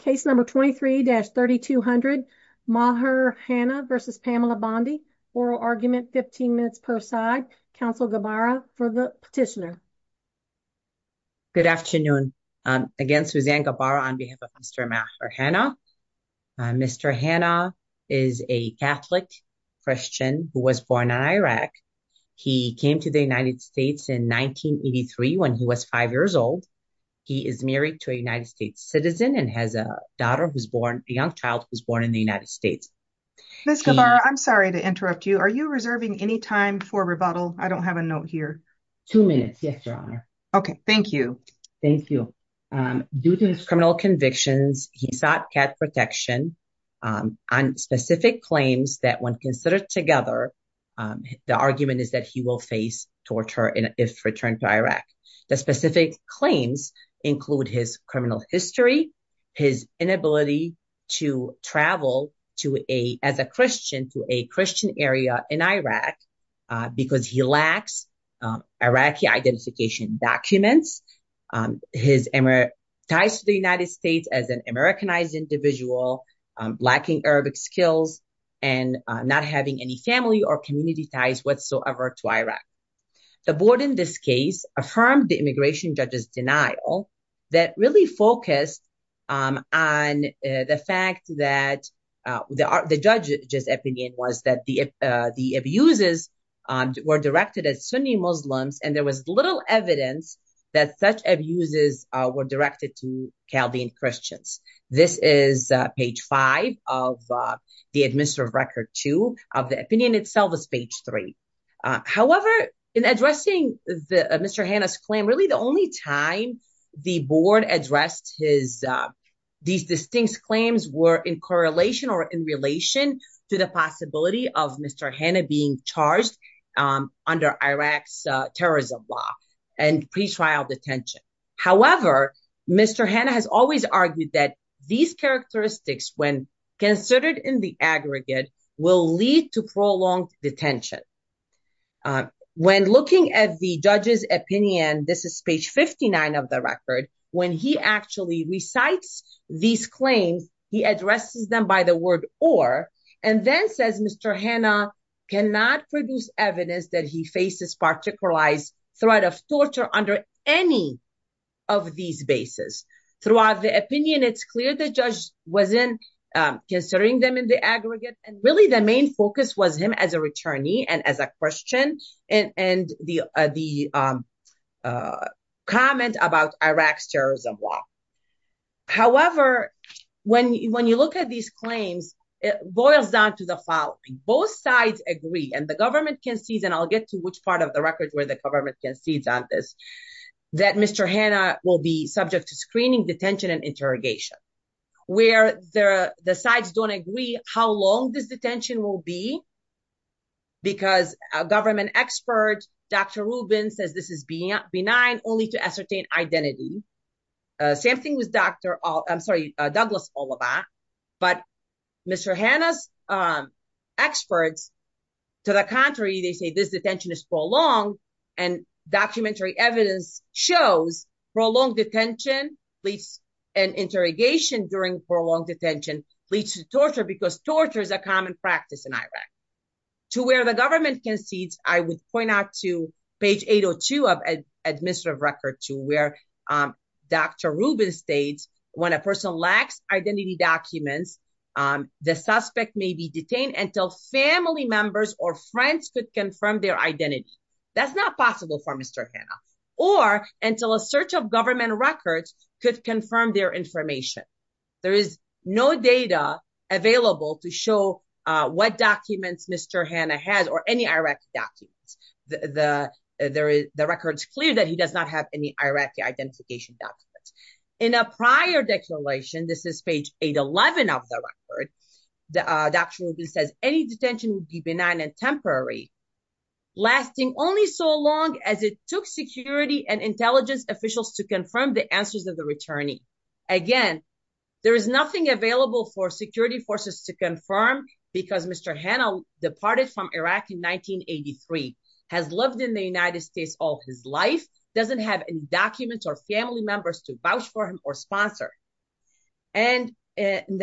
Case number 23-3200 Maher Hanna v. Pamela Bondi, oral argument 15 minutes per side. Counsel Gabara for the petitioner. Good afternoon. Again, Suzanne Gabara on behalf of Mr. Maher Hanna. Mr. Hanna is a Catholic Christian who was born in Iraq. He came to the United States in 1983 when he was 5 years old. He is married to a United States citizen and has a daughter who's born a young child who was born in the United States. Ms. Gabara, I'm sorry to interrupt you. Are you reserving any time for rebuttal? I don't have a note here. Two minutes. Yes, Your Honor. Okay, thank you. Thank you. Due to his criminal convictions, he sought cat protection on specific claims that when considered together, the argument is that he will face torture if returned to Iraq. The specific claims include his criminal history, his inability to travel to a as a Christian to a Christian area in Iraq, because he lacks Iraqi identification documents, his ties to the United States as an Americanized individual, lacking Arabic skills, and not having any family or community ties whatsoever to Iraq. The court in this case affirmed the immigration judge's denial that really focused on the fact that the judge's opinion was that the abuses were directed at Sunni Muslims, and there was little evidence that such abuses were directed to Chaldean Christians. This is page five of the administrative record two of the opinion itself is page three. However, in addressing Mr. Hannah's claim, really, the only time the board addressed his these distinct claims were in correlation or in relation to the possibility of Mr. Hannah being charged under Iraq's terrorism law and pretrial detention. However, Mr. Hannah has always argued that these characteristics, when considered in the aggregate, will lead to prolonged detention. When looking at the judge's opinion, this is page 59 of the record, when he actually recites these claims, he addresses them by the word or, and then says Mr. Hannah cannot produce evidence that he faces particularized threat of torture under any of these bases. Throughout the opinion, it's clear the judge wasn't considering them in the aggregate, and really the main focus was him as a returnee and as a Christian, and the comment about Iraq's terrorism law. However, when you look at these claims, it boils down to the following. Both sides agree, and the government concedes, and I'll get to which part of the record where the government concedes on this, that Mr. Hannah will be subject to screening, detention, and interrogation. Where the sides don't agree how long this detention will be, because a government expert, Dr. Rubin, says this is benign only to ascertain identity. Same thing with Dr., I'm sorry, Douglas Oliva, but Mr. Hannah's experts, to the contrary, they say this detention is prolonged, and documentary evidence shows prolonged detention, police and interrogation during prolonged detention, leads to torture, because torture is a common practice in Iraq. To where the government concedes, I would point out to page 802 of administrative record to where Dr. Rubin states, when a person lacks identity documents, the suspect may be detained until family members or friends could confirm their identity. That's not possible for Mr. Hannah, or until a search of government records could confirm their information. There is no data available to show what documents Mr. Hannah has, or any Iraq documents. The record's clear that he does not have any Iraqi identification documents. In a prior declaration, this is page 811 of the record, Dr. Rubin says, any detention would be benign and temporary, lasting only so long as it took security and intelligence officials to confirm the answers of the returnee. Again, there is nothing available for security forces to confirm, because Mr. Hannah departed from Iraq in 1983, has lived in the United States all his life, doesn't have any documents or family members to vouch for him or sponsor, and in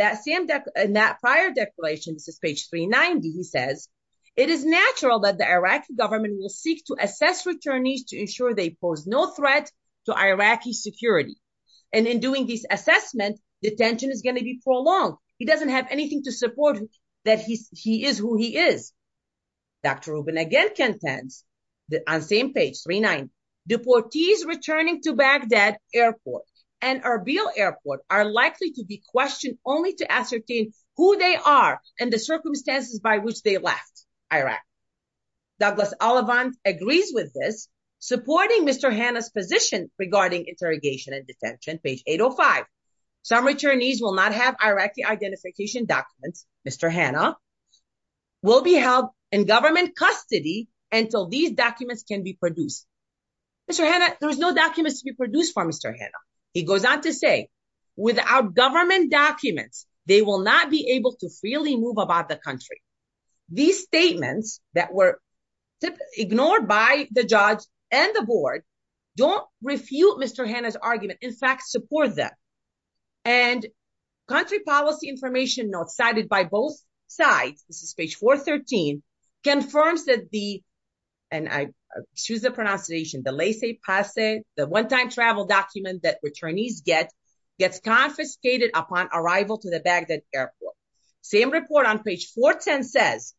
that prior declaration, this is page 390, he says, it is natural that the Iraqi government will seek to assess returnees to ensure they pose no threat to Iraqi security, and in doing this assessment, detention is going to be prolonged. He doesn't have anything to support that he is who he is. Dr. Rubin again contends, on the same page, 390, deportees returning to Baghdad Airport and Erbil Airport are likely to be questioned only to ascertain who they are and the circumstances by which they left Iraq. Douglas Ollivant agrees with this, supporting Mr. Hannah's position regarding interrogation and detention, page 805, some returnees will not have Iraqi identification documents, Mr. Hannah, will be held in government custody until these documents can be used. Mr. Hannah, there's no documents to be produced for Mr. Hannah. He goes on to say, without government documents, they will not be able to freely move about the country. These statements that were ignored by the judge and the board don't refute Mr. Hannah's argument, in fact, support them, and country policy information notes cited by both sides, this is page 413, confirms that the, and I excuse the pronunciation, the Laissez-Passer, the one-time travel document that returnees get, gets confiscated upon arrival to the Baghdad Airport. Same report on page 410 says,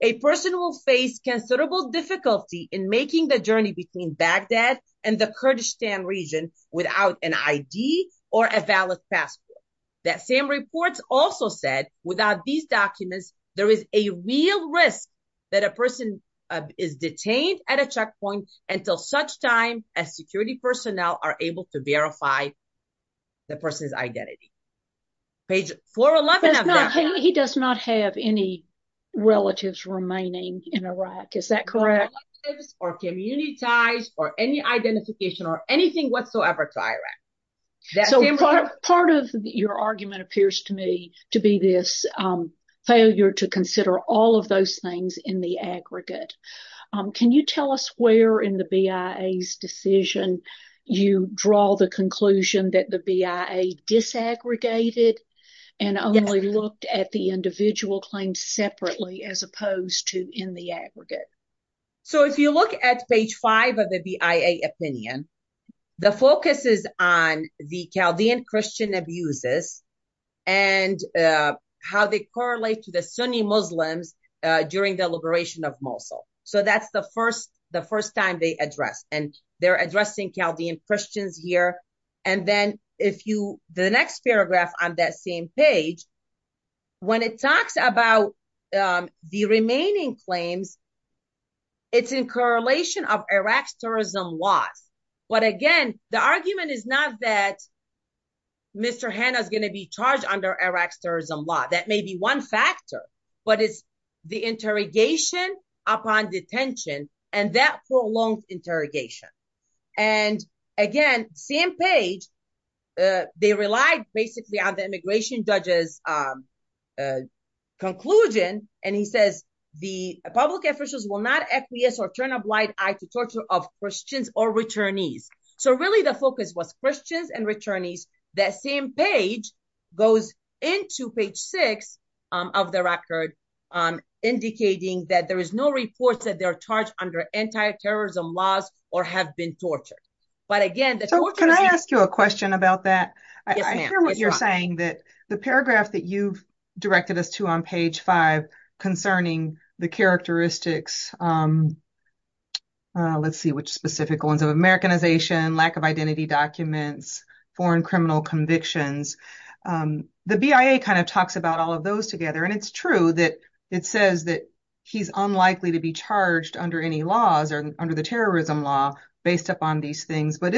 a person will face considerable difficulty in making the journey between Baghdad and the Kurdistan region without an ID or a valid passport. That same report also said, without these documents, there is a real risk that a person is detained at a checkpoint until such time as security personnel are able to verify the person's identity. Page 411 of that- He does not have any relatives remaining in Iraq, is that correct? Or communitized, or any identification, or anything whatsoever to Iraq. So part of your argument appears to me to be this failure to consider all of those things in the aggregate. Can you tell us where in the BIA's decision you draw the conclusion that the BIA disaggregated and only looked at the individual claims separately as opposed to in the aggregate? So if you look at page 5 of the BIA opinion, the focus is on the Chaldean Christian abuses and how they correlate to the Sunni Muslims during the liberation of Mosul. So that's the first, the first time they address, and they're addressing Chaldean Christians here. And then if you, the next paragraph on that same page, when it talks about the remaining claims, it's in correlation of Iraq's terrorism laws. But again, the argument is not that Mr. Hanna is going to be charged under Iraq's terrorism law. That may be one factor, but it's the interrogation upon detention and that prolonged interrogation. And again, same page, they relied basically on the immigration judge's conclusion. And he says the public officials will not acquiesce or turn a blind eye to torture of Christians or returnees. So really the focus was Christians and returnees. That same page goes into page 6 of the record, indicating that there is no reports that they're charged under anti-terrorism laws or have been tortured. But again, can I ask you a question about that? I hear what you're saying that the paragraph that you've directed us to on page 5 concerning the characteristics, let's see which specific ones of Americanization, lack of identity documents, foreign criminal convictions, the BIA kind of talks about all of those together. And it's true that it says that he's unlikely to be charged under any laws or under the terrorism law based upon these things. But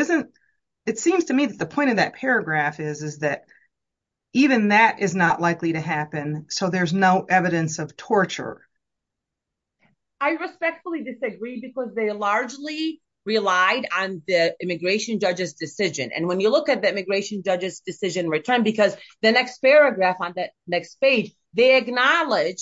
it seems to me that the point of that paragraph is that even that is not likely to happen. So there's no evidence of torture. I respectfully disagree because they largely relied on the immigration judge's decision. And when you look at the immigration judge's decision return, because the next paragraph on that next page, they acknowledge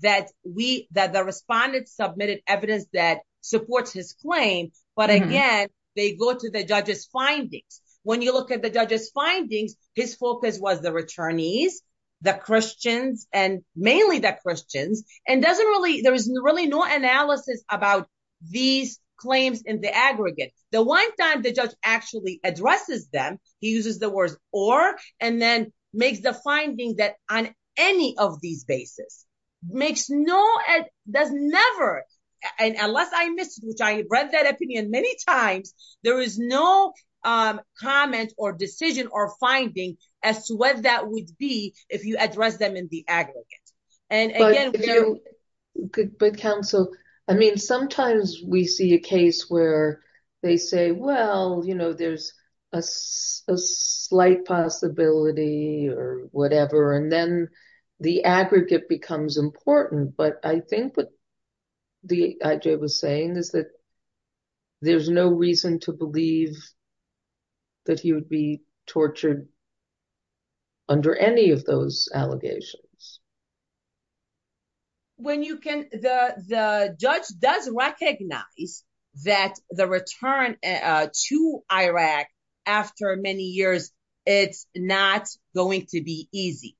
that the respondents submitted evidence that supports his claim. But again, they go to the judge's findings. When you look at the judge's findings, his focus was the returnees, the Christians and mainly the Christians. And there is really no analysis about these claims in the aggregate. The one time the judge actually addresses them, he uses the words or and then makes the finding that on any of these basis makes no, does never. And unless I missed, which I read that opinion many times, there is no comment or decision or finding as to what that would be if you address them in the aggregate. But counsel, I mean, sometimes we see a case where they say, well, you know, there's a slight possibility or whatever, and then the aggregate becomes important. But I think what the IJ was saying is that there's no reason to believe that he would be tortured under any of those allegations. When you can, the judge does recognize that the return to Iraq after many years, it's not going to be easy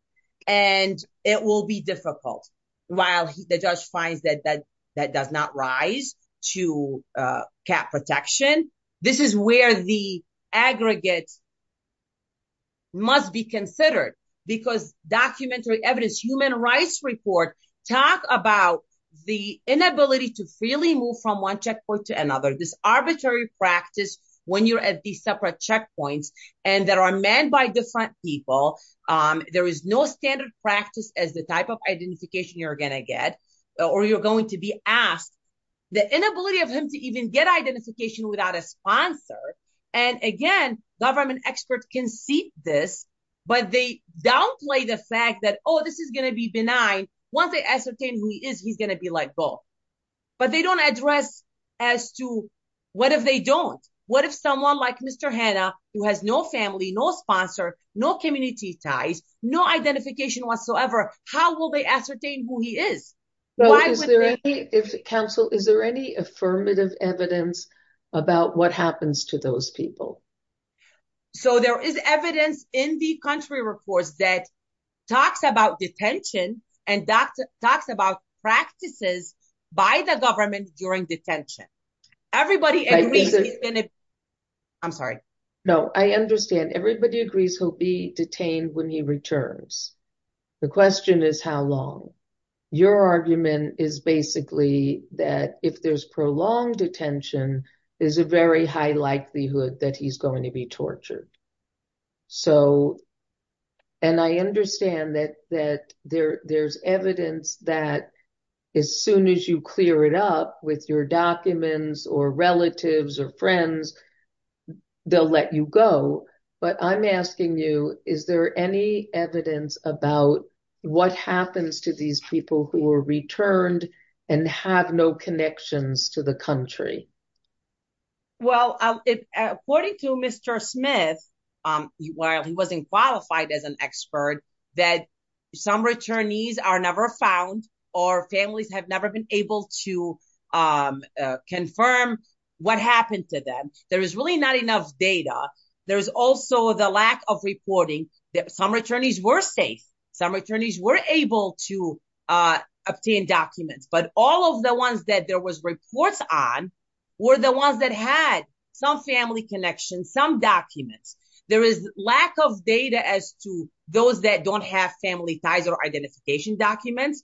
and it will be difficult. While the judge finds that that that does not rise to cap protection. This is where the aggregate must be considered because documentary evidence, human rights report, talk about the inability to freely move from one checkpoint to another, this arbitrary practice when you're at these separate checkpoints and there are men by different people. There is no standard practice as the type of identification you're going to get or you're going to be asked the inability of him to even get an identification without a sponsor. And again, government experts can see this, but they downplay the fact that, oh, this is going to be benign. Once they ascertain who he is, he's going to be let go. But they don't address as to what if they don't? What if someone like Mr. Hanna, who has no family, no sponsor, no community ties, no identification whatsoever, how will they ascertain who he is? Is there any, if counsel, is there any affirmative evidence about what happens to those people? So there is evidence in the country reports that talks about detention and talks about practices by the government during detention. Everybody agrees he's going to be detained. I'm sorry. No, I understand. Everybody agrees he'll be detained when he returns. The question is, how long? Your argument is basically that if there's prolonged detention, there's a very high likelihood that he's going to be tortured. So, and I understand that there's evidence that as soon as you clear it up with your documents or relatives or friends, they'll let you go. But I'm asking you, is there any evidence about what happens to these people who were returned and have no connections to the country? Well, according to Mr. Smith, while he wasn't qualified as an expert, that some returnees are never found or families have never been able to confirm what happened to them. There is really not enough data. There's also the lack of reporting. Some returnees were safe. Some returnees were able to obtain documents. But all of the ones that there was reports on were the ones that had some family connections, some documents. There is lack of data as to those that don't have family ties or identification documents.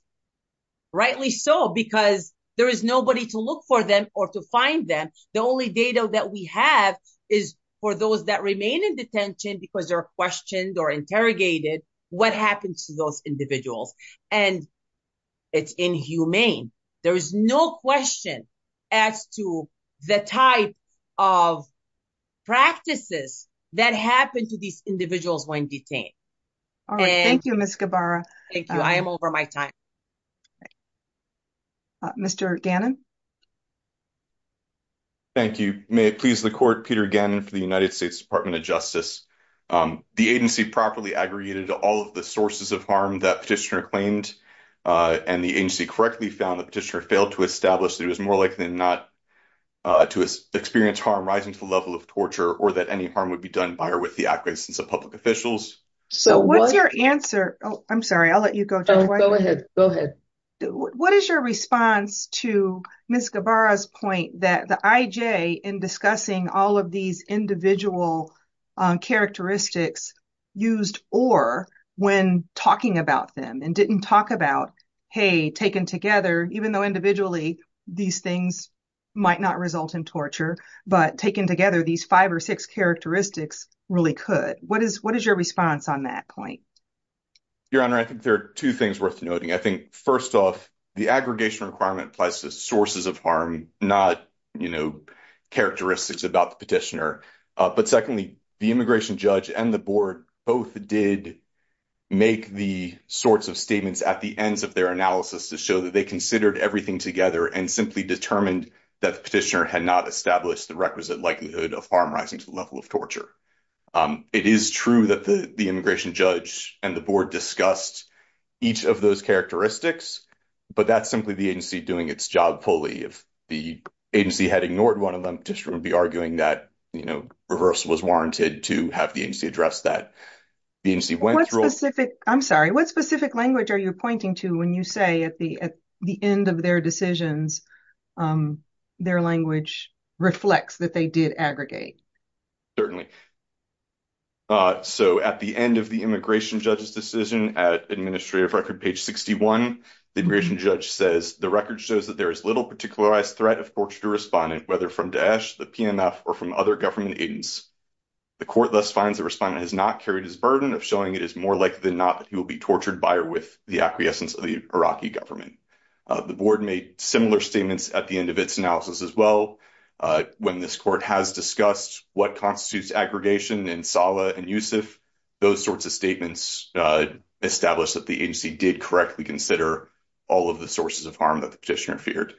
Rightly so, because there is nobody to look for them or to find them. The only data that we have is for those that remain in detention because they're questioned or interrogated. What happens to those individuals? And it's inhumane. There is no question as to the type of practices that happen to these individuals when detained. All right. Thank you, Ms. Gabbara. Thank you. I am over my time. Mr. Gannon. Thank you. May it please the court, Peter Gannon for the United States Department of Justice. The agency properly aggregated all of the sources of harm that petitioner claimed and the agency correctly found the petitioner failed to establish that it was more likely than not to experience harm rising to the level of torture or that any harm would be done by or with the acquiescence of public officials. So what's your answer? Oh, I'm sorry. I'll let you go. Go ahead. Go ahead. What is your response to Ms. Gabbara's point that the IJ in discussing all of these individual characteristics used or when talking about them and didn't talk about, hey, taken together, even though individually these things might not result in torture, but taken together, these five or six characteristics really could. What is what is your response on that point? Your Honor, I think there are two things worth noting. I think, first off, the aggregation requirement applies to sources of harm, not characteristics about the petitioner. But secondly, the immigration judge and the board both did make the sorts of statements at the ends of their analysis to show that they considered everything together and simply determined that the petitioner had not established the requisite likelihood of harm rising to the level of torture. It is true that the immigration judge and the board discussed each of those characteristics, but that's simply the agency doing its job fully. If the agency had ignored one of them, the petitioner would be arguing that, you know, reverse was warranted to have the agency address that. I'm sorry. What specific language are you pointing to when you say at the end of their decisions, their language reflects that they did aggregate? Certainly. So at the end of the immigration judge's decision, at administrative record page 61, the immigration judge says the record shows that there is little particularized threat of torture to respondent, whether from Daesh, the PMF, or from other government agents. The court thus finds the respondent has not carried his burden of showing it is more likely than not that he will be tortured by or with the acquiescence of the Iraqi government. The board made similar statements at the end of its analysis as well. When this court has discussed what constitutes aggregation in Saleh and Yusuf, those sorts of statements establish that the agency did correctly consider all of the sources of harm that the petitioner feared.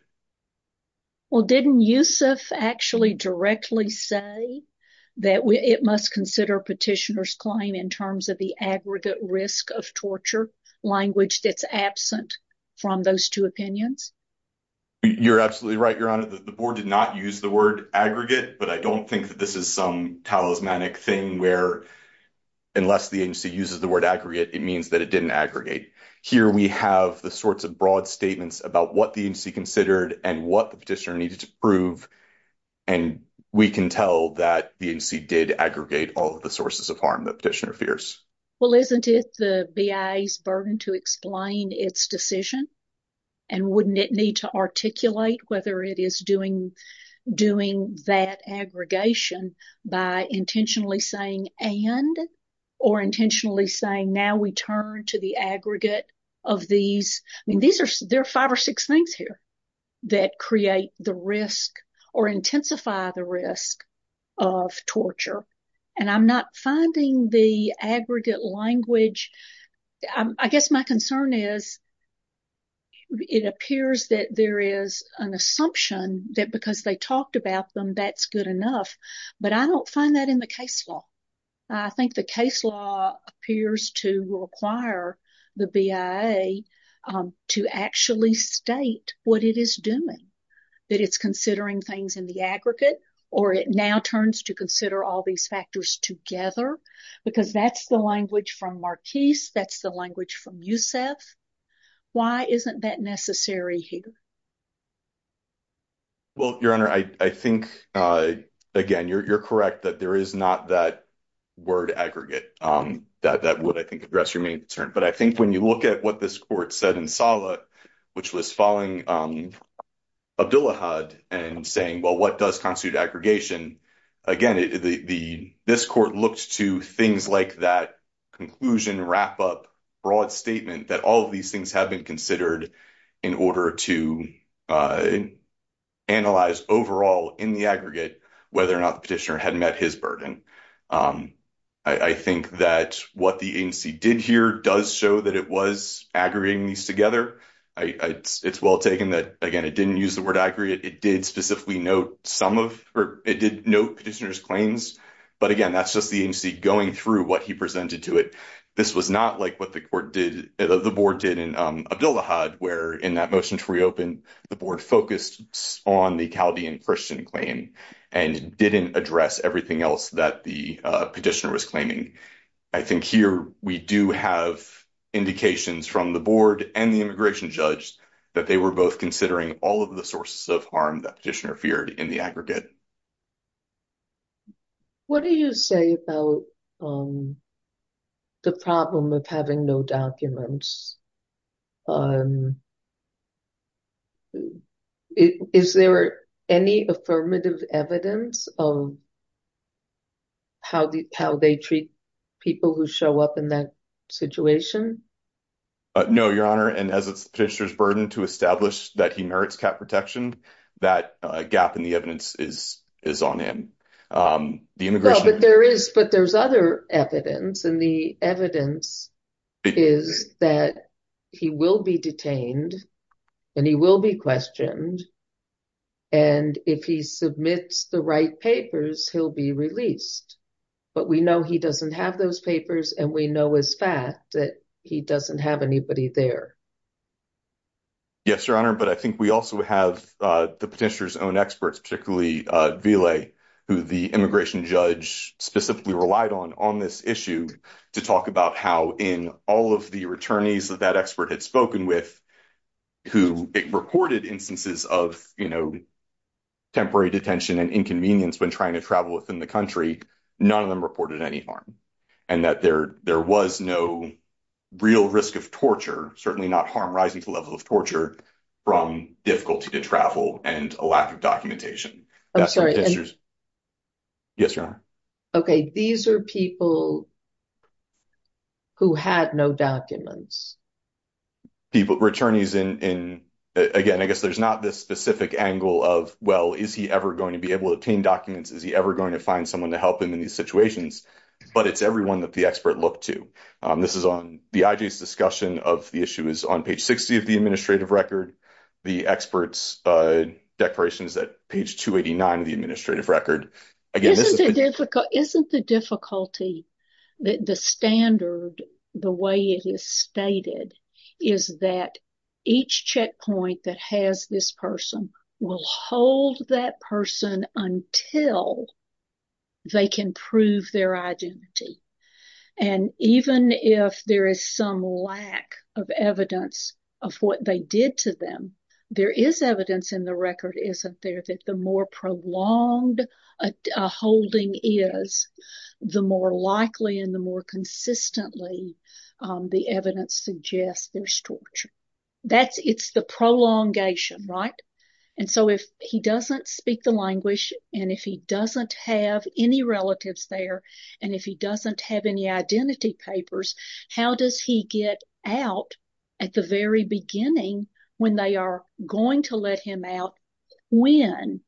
Well, didn't Yusuf actually directly say that it must consider petitioner's claim in terms of the aggregate risk of torture language that's absent from those two opinions? You're absolutely right, Your Honor. The board did not use the word aggregate, but I don't think that this is some talismanic thing where unless the agency uses the word aggregate, it means that it didn't aggregate. Here we have the sorts of broad statements about what the agency considered and what the petitioner needed to prove. And we can tell that the agency did aggregate all of the sources of harm that petitioner fears. Well, isn't it the BIA's burden to explain its decision? And wouldn't it need to articulate whether it is doing that aggregation by intentionally saying and or intentionally saying now we turn to the aggregate of these? I mean, there are five or six things here that create the risk or intensify the risk of torture. And I'm not finding the aggregate language. I guess my concern is it appears that there is an assumption that because they talked about them, that's good enough. But I don't find that in the case law. I think the case law appears to require the BIA to actually state what it is doing, that it's considering things in the aggregate or it now turns to consider all these factors together, because that's the language from Marquis. That's the language from Yusef. Why isn't that necessary here? Well, Your Honor, I think, again, you're correct that there is not that word aggregate that would, I think, address your main concern. But I think when you look at what this court said in Saleh, which was following Abdullah Had and saying, well, what does constitute aggregation? Again, the this court looks to things like that conclusion, wrap up broad statement that all of these things have been considered in order to analyze overall in the aggregate, whether or not the petitioner had met his burden. I think that what the agency did here does show that it was aggregating these together. It's well taken that, again, it didn't use the word aggregate. It did specifically note some of or it did note petitioner's claims. But again, that's just the agency going through what he presented to it. This was not like what the court did, the board did in Abdullah Had, where in that motion to reopen, the board focused on the Chaldean Christian claim and didn't address everything else that the petitioner was claiming. I think here we do have indications from the board and the immigration judge that they were both considering all of the sources of harm that petitioner feared in the aggregate. What do you say about the problem of having no documents? Is there any affirmative evidence of. How how they treat people who show up in that situation? No, Your Honor. And as a petitioner's burden to establish that he merits cap protection, that gap in the evidence is is on him. But there is but there's other evidence. And the evidence is that he will be detained and he will be questioned. And if he submits the right papers, he'll be released. But we know he doesn't have those papers and we know as fact that he doesn't have anybody there. Yes, Your Honor, but I think we also have the petitioner's own experts, particularly Ville, who the immigration judge specifically relied on on this issue to talk about how in all of the returnees that that expert had spoken with. Who reported instances of temporary detention and inconvenience when trying to travel within the country, none of them reported any harm. And that there there was no real risk of torture, certainly not harm rising to the level of torture from difficulty to travel and a lack of documentation. Yes, Your Honor. OK, these are people who had no documents. People, returnees in again, I guess there's not this specific angle of, well, is he ever going to be able to obtain documents? Is he ever going to find someone to help him in these situations? But it's everyone that the expert looked to. This is on the IG's discussion of the issue is on page 60 of the administrative record. The expert's declaration is at page 289 of the administrative record. Isn't the difficulty that the standard, the way it is stated, is that each checkpoint that has this person will hold that person until they can prove their identity. And even if there is some lack of evidence of what they did to them, there is evidence in the record, isn't there, that the more prolonged a holding is, the more likely and the more consistently the evidence suggests there's torture. That's it's the prolongation. Right. And so if he doesn't speak the language and if he doesn't have any relatives there and if he doesn't have any identity papers, how does he get out at the very beginning when they are going to let him out when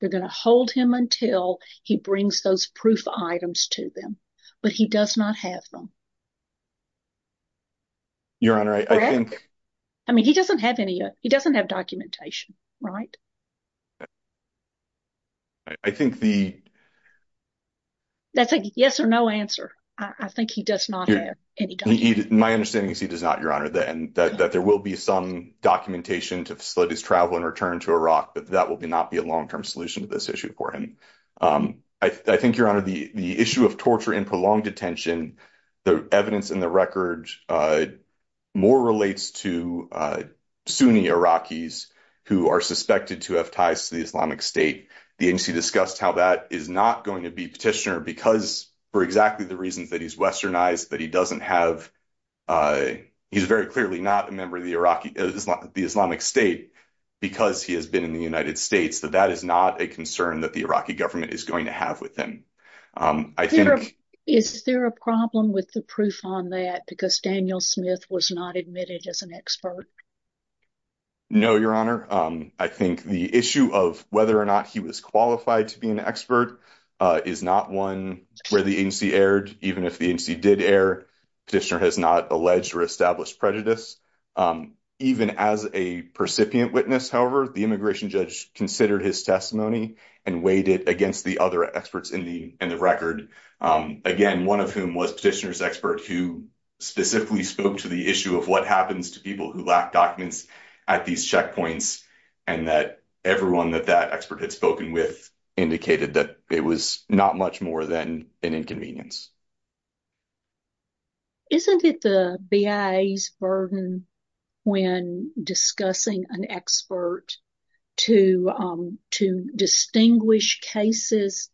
they're going to hold him until he brings those proof items to them? But he does not have them. Your Honor, I think. I mean, he doesn't have any. He doesn't have documentation. Right. I think the. That's a yes or no answer. I think he does not. My understanding is he does not, Your Honor, that there will be some documentation to facilitate his travel and return to Iraq, but that will not be a long term solution to this issue for him. I think, Your Honor, the issue of torture and prolonged detention, the evidence in the record more relates to Sunni Iraqis who are suspected to have ties to the Islamic State. The agency discussed how that is not going to be petitioner because for exactly the reasons that he's westernized that he doesn't have. He's very clearly not a member of the Iraqi Islamic State because he has been in the United States that that is not a concern that the Iraqi government is going to have with them. I think. Is there a problem with the proof on that? Because Daniel Smith was not admitted as an expert. No, Your Honor, I think the issue of whether or not he was qualified to be an expert is not one where the agency aired, even if the agency did air petitioner has not alleged or established prejudice. Even as a percipient witness, however, the immigration judge considered his testimony and weighed it against the other experts in the record. Again, one of whom was petitioner's expert who specifically spoke to the issue of what happens to people who lack documents at these checkpoints and that everyone that that expert had spoken with indicated that it was not much more than an inconvenience. Isn't it the BIA's burden when discussing an expert to to distinguish cases?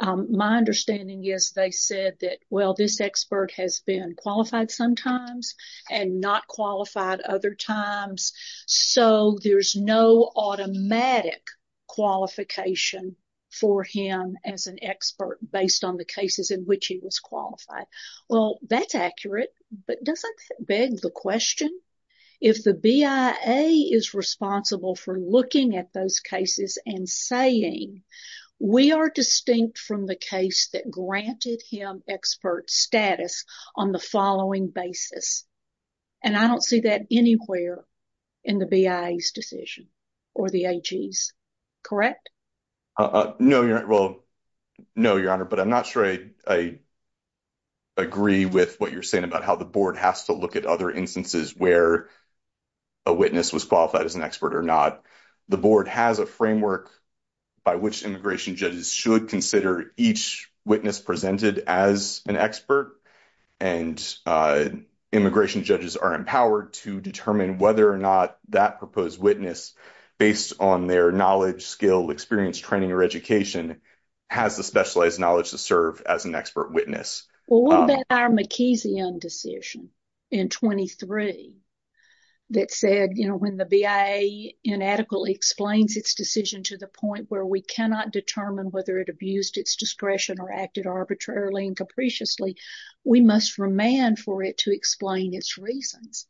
My understanding is they said that, well, this expert has been qualified sometimes and not qualified other times. So there's no automatic qualification for him as an expert based on the cases in which he was qualified. Well, that's accurate. But doesn't that beg the question? If the BIA is responsible for looking at those cases and saying we are distinct from the case that granted him expert status on the following basis. And I don't see that anywhere in the BIA's decision or the AG's. Correct? No. Well, no, Your Honor, but I'm not sure I agree with what you're saying about how the board has to look at other instances where a witness was qualified as an expert or not. The board has a framework by which immigration judges should consider each witness presented as an expert. And immigration judges are empowered to determine whether or not that proposed witness, based on their knowledge, skill, experience, training or education, has the specialized knowledge to serve as an expert witness. Well, what about our McKee's decision in 23 that said, you know, when the BIA inadequately explains its decision to the point where we cannot determine whether it abused its discretion or acted arbitrarily and capriciously, we must remand for it to explain its reasons.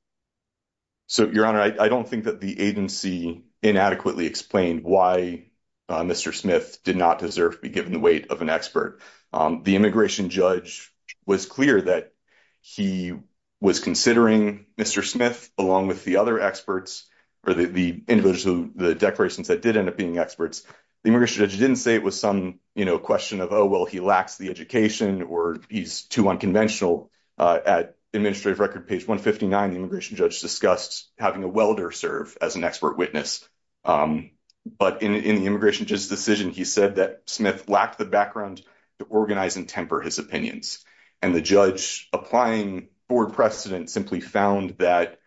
So, Your Honor, I don't think that the agency inadequately explained why Mr. Smith did not deserve to be given the weight of an expert. The immigration judge was clear that he was considering Mr. Smith along with the other experts or the individuals who the declarations that did end up being experts. The immigration judge didn't say it was some question of, oh, well, he lacks the education or he's too unconventional. At administrative record page 159, the immigration judge discussed having a welder serve as an expert witness. But in the immigration judge's decision, he said that Smith lacked the background to organize and temper his opinions. And the judge applying for precedent simply found that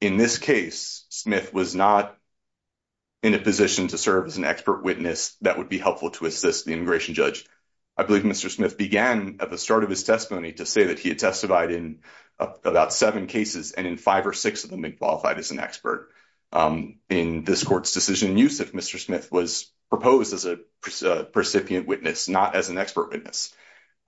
in this case, Smith was not in a position to serve as an expert witness that would be helpful to assist the immigration judge. I believe Mr. Smith began at the start of his testimony to say that he had testified in about seven cases and in five or six of them, he qualified as an expert. In this court's decision, Yusuf Mr. Smith was proposed as a recipient witness, not as an expert witness.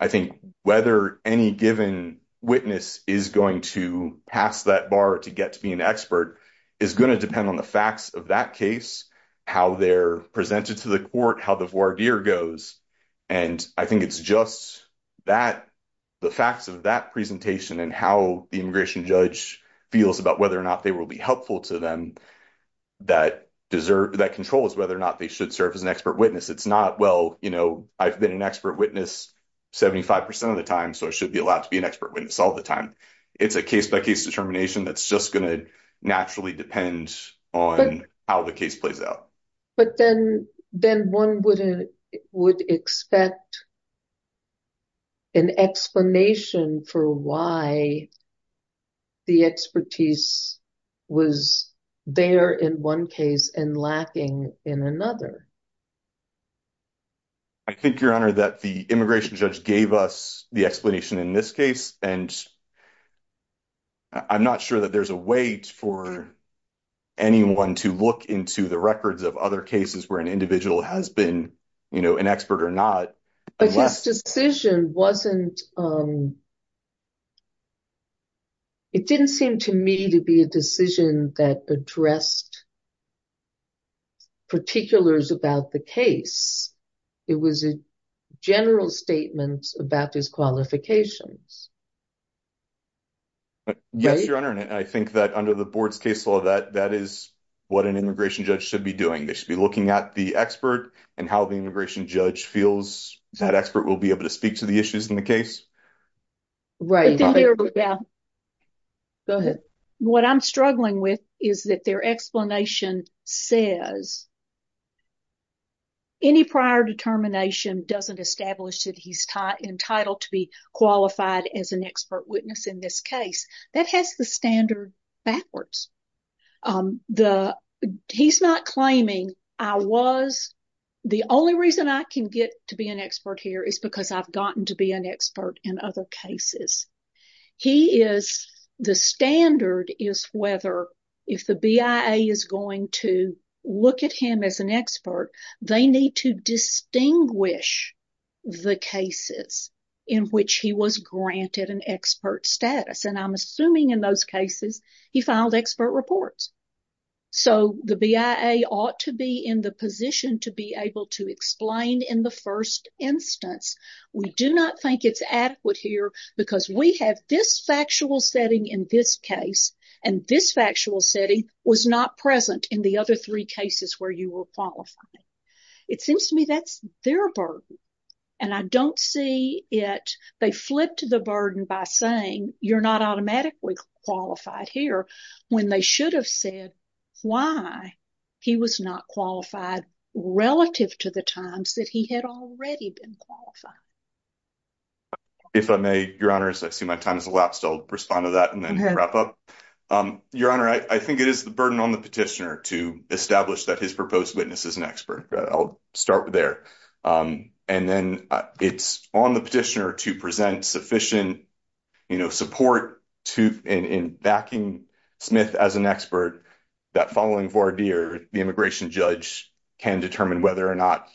I think whether any given witness is going to pass that bar to get to be an expert is going to depend on the facts of that case, how they're presented to the court, how the voir dire goes. And I think it's just that the facts of that presentation and how the immigration judge feels about whether or not they will be helpful to them, that controls whether or not they should serve as an expert witness. It's not, well, you know, I've been an expert witness 75 percent of the time, so I should be allowed to be an expert witness all the time. It's a case by case determination that's just going to naturally depend on how the case plays out. But then then one wouldn't would expect an explanation for why the expertise was there in one case and lacking in another. I think, Your Honor, that the immigration judge gave us the explanation in this case, and I'm not sure that there's a way for anyone to look into the records of other cases where an individual has been an expert or not. But his decision wasn't. It didn't seem to me to be a decision that addressed particulars about the case. It was a general statement about his qualifications. Yes, Your Honor, and I think that under the board's case law, that that is what an immigration judge should be doing. They should be looking at the expert and how the immigration judge feels that expert will be able to speak to the issues in the case. Right. Go ahead. What I'm struggling with is that their explanation says. Any prior determination doesn't establish that he's entitled to be qualified as an expert witness in this case that has the standard backwards. The he's not claiming I was. The only reason I can get to be an expert here is because I've gotten to be an expert in other cases. He is. The standard is whether if the BIA is going to look at him as an expert, they need to distinguish the cases in which he was granted an expert status. And I'm assuming in those cases he filed expert reports. So the BIA ought to be in the position to be able to explain in the first instance. We do not think it's adequate here because we have this factual setting in this case and this factual setting was not present in the other three cases where you were qualified. It seems to me that's their burden. And I don't see it. They flip to the burden by saying you're not automatically qualified here when they should have said why he was not qualified relative to the times that he had already been qualified. If I may, your honors, I see my time is elapsed. I'll respond to that and then wrap up your honor. I think it is the burden on the petitioner to establish that his proposed witness is an expert. I'll start there. And then it's on the petitioner to present sufficient support in backing Smith as an expert that following Vardir, the immigration judge can determine whether or not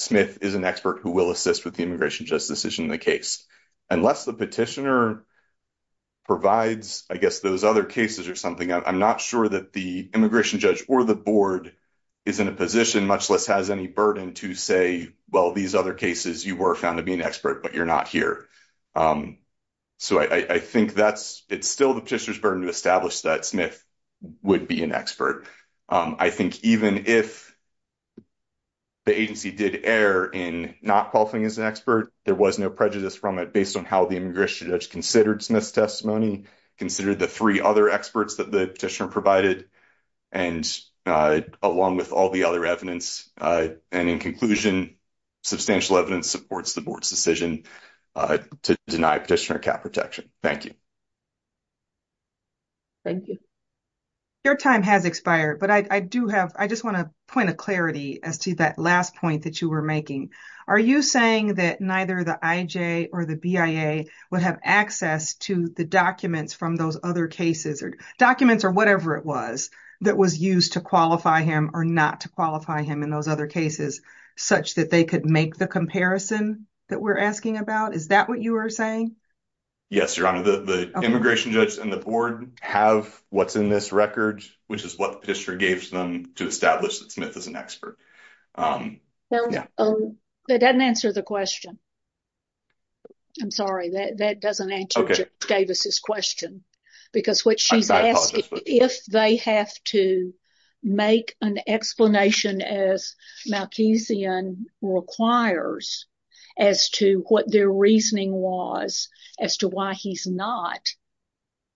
Smith is an expert who will assist with the immigration justice decision in the case. Unless the petitioner provides, I guess, those other cases or something, I'm not sure that the immigration judge or the board is in a position, much less has any burden to say, well, these other cases you were found to be an expert, but you're not here. So, I think that's, it's still the petitioner's burden to establish that Smith would be an expert. I think even if the agency did err in not qualifying as an expert, there was no prejudice from it based on how the immigration judge considered Smith's testimony, considered the 3 other experts that the petitioner provided. And along with all the other evidence and in conclusion, substantial evidence supports the board's decision to deny petitioner cap protection. Thank you. Thank you. Your time has expired, but I do have, I just want to point of clarity as to that last point that you were making. Are you saying that neither the IJ or the BIA would have access to the documents from those other cases or documents or whatever it was that was used to qualify him or not to qualify him in those other cases, such that they could make the comparison that we're asking about? Is that what you were saying? Yes, Your Honor, the immigration judge and the board have what's in this record, which is what the petitioner gave to them to establish that Smith is an expert. That doesn't answer the question. I'm sorry, that doesn't answer Davis's question, because what she's asked, if they have to make an explanation as Malkesian requires as to what their reasoning was as to why he's not,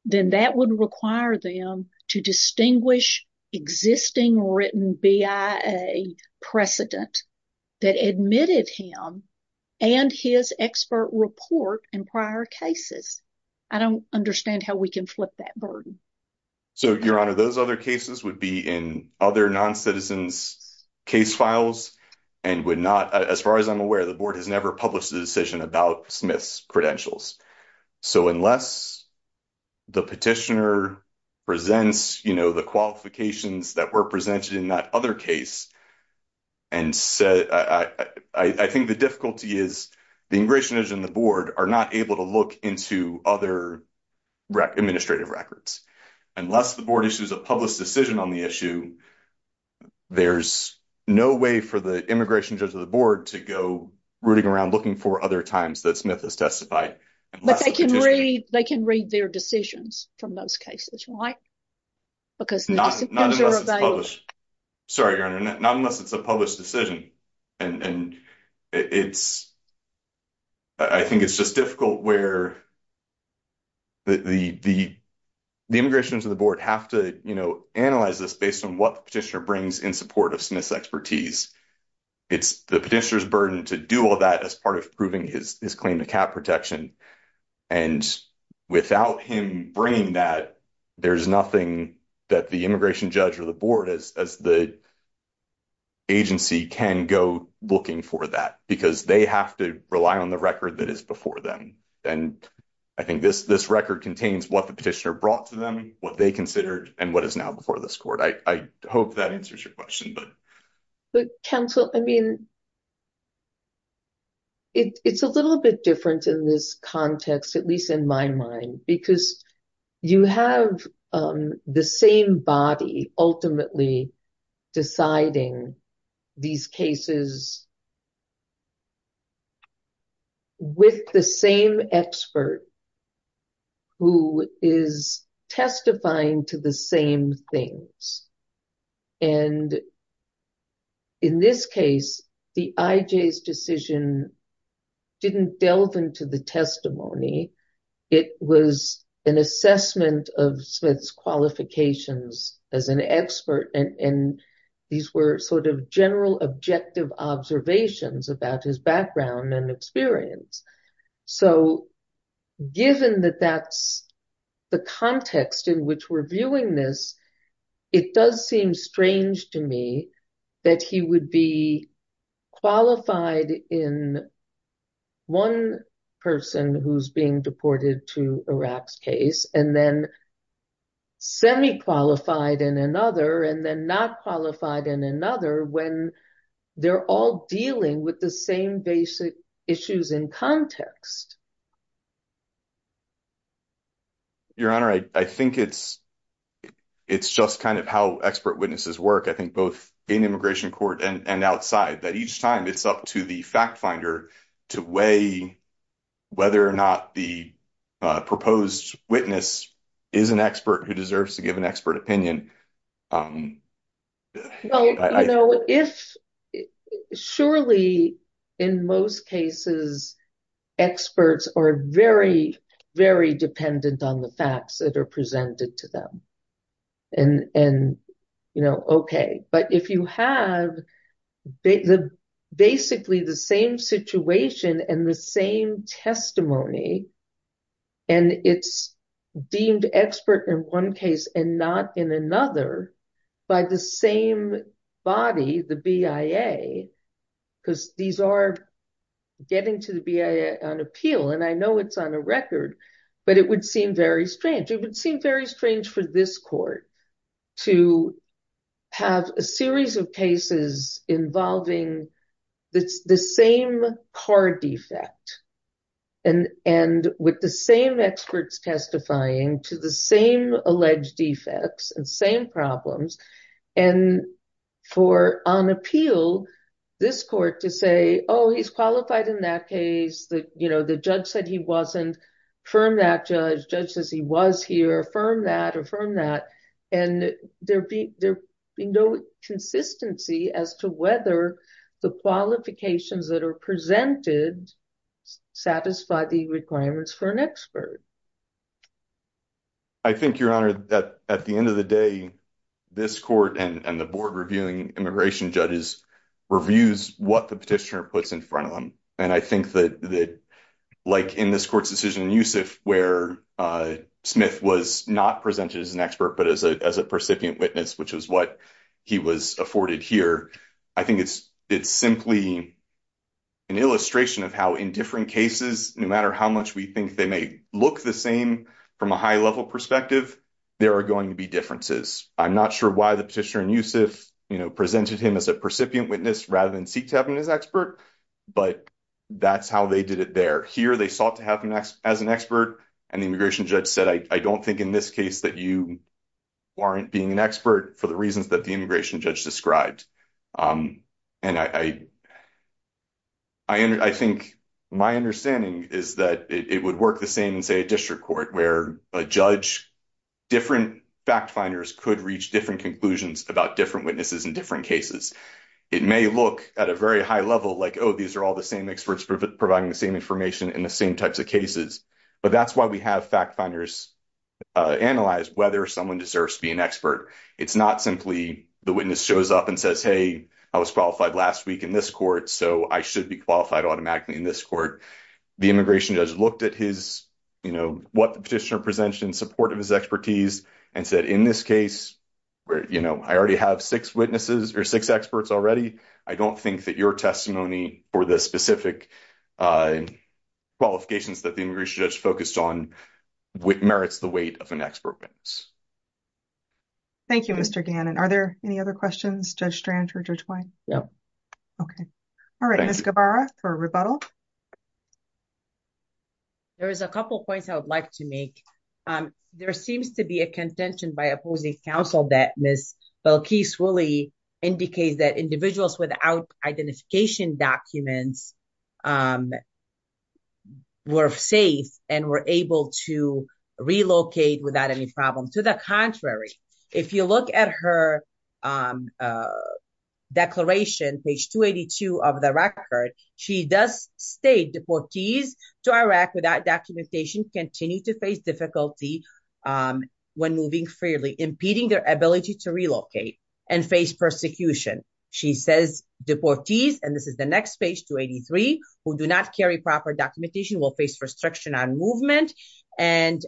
then that would require them to distinguish existing written BIA precedent that admitted him and his expert report in prior cases. I don't understand how we can flip that burden. So, Your Honor, those other cases would be in other non-citizens case files and would not, as far as I'm aware, the board has never published a decision about Smith's credentials. So, unless the petitioner presents the qualifications that were presented in that other case, I think the difficulty is the immigration judge and the board are not able to look into other administrative records. Unless the board issues a published decision on the issue, there's no way for the immigration judge or the board to go rooting around looking for other times that Smith has testified. But they can read their decisions from those cases, right? Not unless it's published. Sorry, Your Honor, not unless it's a published decision. And I think it's just difficult where the immigration judge and the board have to analyze this based on what the petitioner brings in support of Smith's expertise. It's the petitioner's burden to do all that as part of proving his claim to cap protection. And without him bringing that, there's nothing that the immigration judge or the board, as the agency, can go looking for that because they have to rely on the record that is before them. And I think this record contains what the petitioner brought to them, what they considered, and what is now before this court. I hope that answers your question. Counsel, I mean, it's a little bit different in this context, at least in my mind, because you have the same body ultimately deciding these cases. With the same expert who is testifying to the same things. And in this case, the IJ's decision didn't delve into the testimony. It was an assessment of Smith's qualifications as an expert. And these were sort of general objective observations about his background and experience. So given that that's the context in which we're viewing this, it does seem strange to me that he would be qualified in one person who's being deported to Iraq's case. And then semi qualified in another and then not qualified in another when they're all dealing with the same basic issues in context. Your Honor, I think it's it's just kind of how expert witnesses work, I think, both in immigration court and outside that each time it's up to the fact finder to weigh whether or not the proposed witness is an expert who deserves to give an expert opinion. You know, if surely in most cases, experts are very, very dependent on the facts that are presented to them. And and, you know, OK, but if you have the basically the same situation and the same testimony and it's deemed expert in one case and not in another by the same body, the BIA, because these are getting to the BIA on appeal. And I know it's on a record, but it would seem very strange. It would seem very strange for this court to have a series of cases involving the same car defect. And and with the same experts testifying to the same alleged defects and same problems and for on appeal, this court to say, oh, he's qualified in that case. You know, the judge said he wasn't. Affirm that judge. Judge says he was here. Affirm that. Affirm that. And there be there be no consistency as to whether the qualifications that are presented satisfy the requirements for an expert. I think your honor that at the end of the day, this court and the board reviewing immigration judges reviews what the petitioner puts in front of them. And I think that, like, in this court's decision, Yusuf, where Smith was not presented as an expert, but as a, as a percipient witness, which is what he was afforded here. I think it's, it's simply an illustration of how in different cases, no matter how much we think they may look the same from a high level perspective, there are going to be differences. I'm not sure why the petitioner and Yusuf presented him as a percipient witness rather than seek to have him as expert. But that's how they did it there here. They sought to have an as an expert and the immigration judge said, I don't think in this case that you aren't being an expert for the reasons that the immigration judge described. And I, I think my understanding is that it would work the same and say, a district court where a judge. Different fact finders could reach different conclusions about different witnesses in different cases. It may look at a very high level, like, oh, these are all the same experts providing the same information in the same types of cases. But that's why we have fact finders analyze whether someone deserves to be an expert. It's not simply the witness shows up and says, hey, I was qualified last week in this court. So I should be qualified automatically in this court. The immigration judge looked at his, you know, what the petitioner presented in support of his expertise and said, in this case. You know, I already have 6 witnesses or 6 experts already. I don't think that your testimony for the specific qualifications that the immigration judge focused on. Merits the weight of an expert witness. Thank you, Mr. Gannon. Are there any other questions? Judge Strange or Judge Wine? No. Okay. All right. Ms. Gabbara for rebuttal. There is a couple of points I would like to make. There seems to be a contention by opposing counsel that Ms. Belkis-Wooley indicates that individuals without identification documents. We're safe and we're able to relocate without any problem. To the contrary, if you look at her declaration, page 282 of the record, she does state deportees to Iraq without documentation continue to face difficulty when moving freely, impeding their ability to relocate and face persecution. She says deportees, and this is the next page, 283, who do not carry proper documentation will face restriction on movement and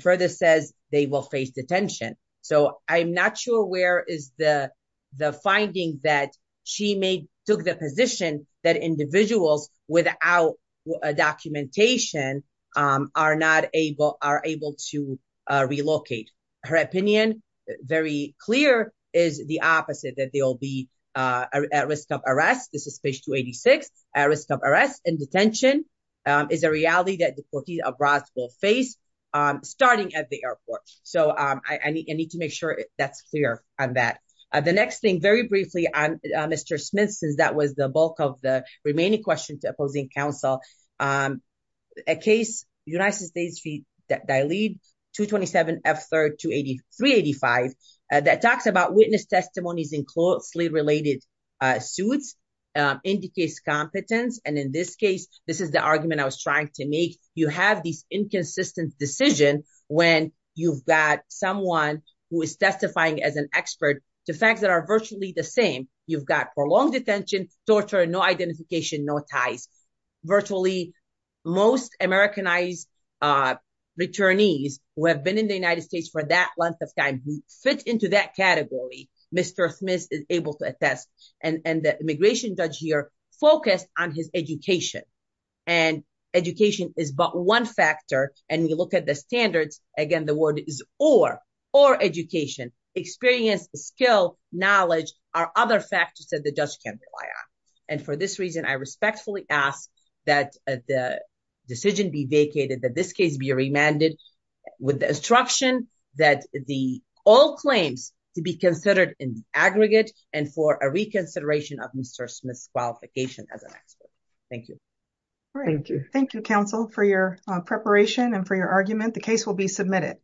further says they will face detention. So I'm not sure where is the finding that she may took the position that individuals without documentation are not able are able to relocate. Her opinion, very clear, is the opposite that they will be at risk of arrest. This is page 286. At risk of arrest and detention is a reality that deportees abroad will face starting at the airport. So I need to make sure that's clear on that. The next thing, very briefly, Mr. Smith, since that was the bulk of the remaining question to opposing counsel. A case, United States v. Dalit, 227F3-385, that talks about witness testimonies in closely related suits indicates competence. And in this case, this is the argument I was trying to make. You have this inconsistent decision when you've got someone who is testifying as an expert to facts that are virtually the same. You've got prolonged detention, torture, no identification, no ties. Virtually most Americanized returnees who have been in the United States for that length of time who fit into that category, Mr. Smith is able to attest. And the immigration judge here focused on his education. And education is but one factor. And you look at the standards, again, the word is or. Or education, experience, skill, knowledge are other factors that the judge can't rely on. And for this reason, I respectfully ask that the decision be vacated, that this case be remanded with the instruction that the all claims to be considered in the aggregate and for a reconsideration of Mr. Smith's qualification as an expert. Thank you. Thank you. Thank you, counsel, for your preparation and for your argument. The case will be submitted.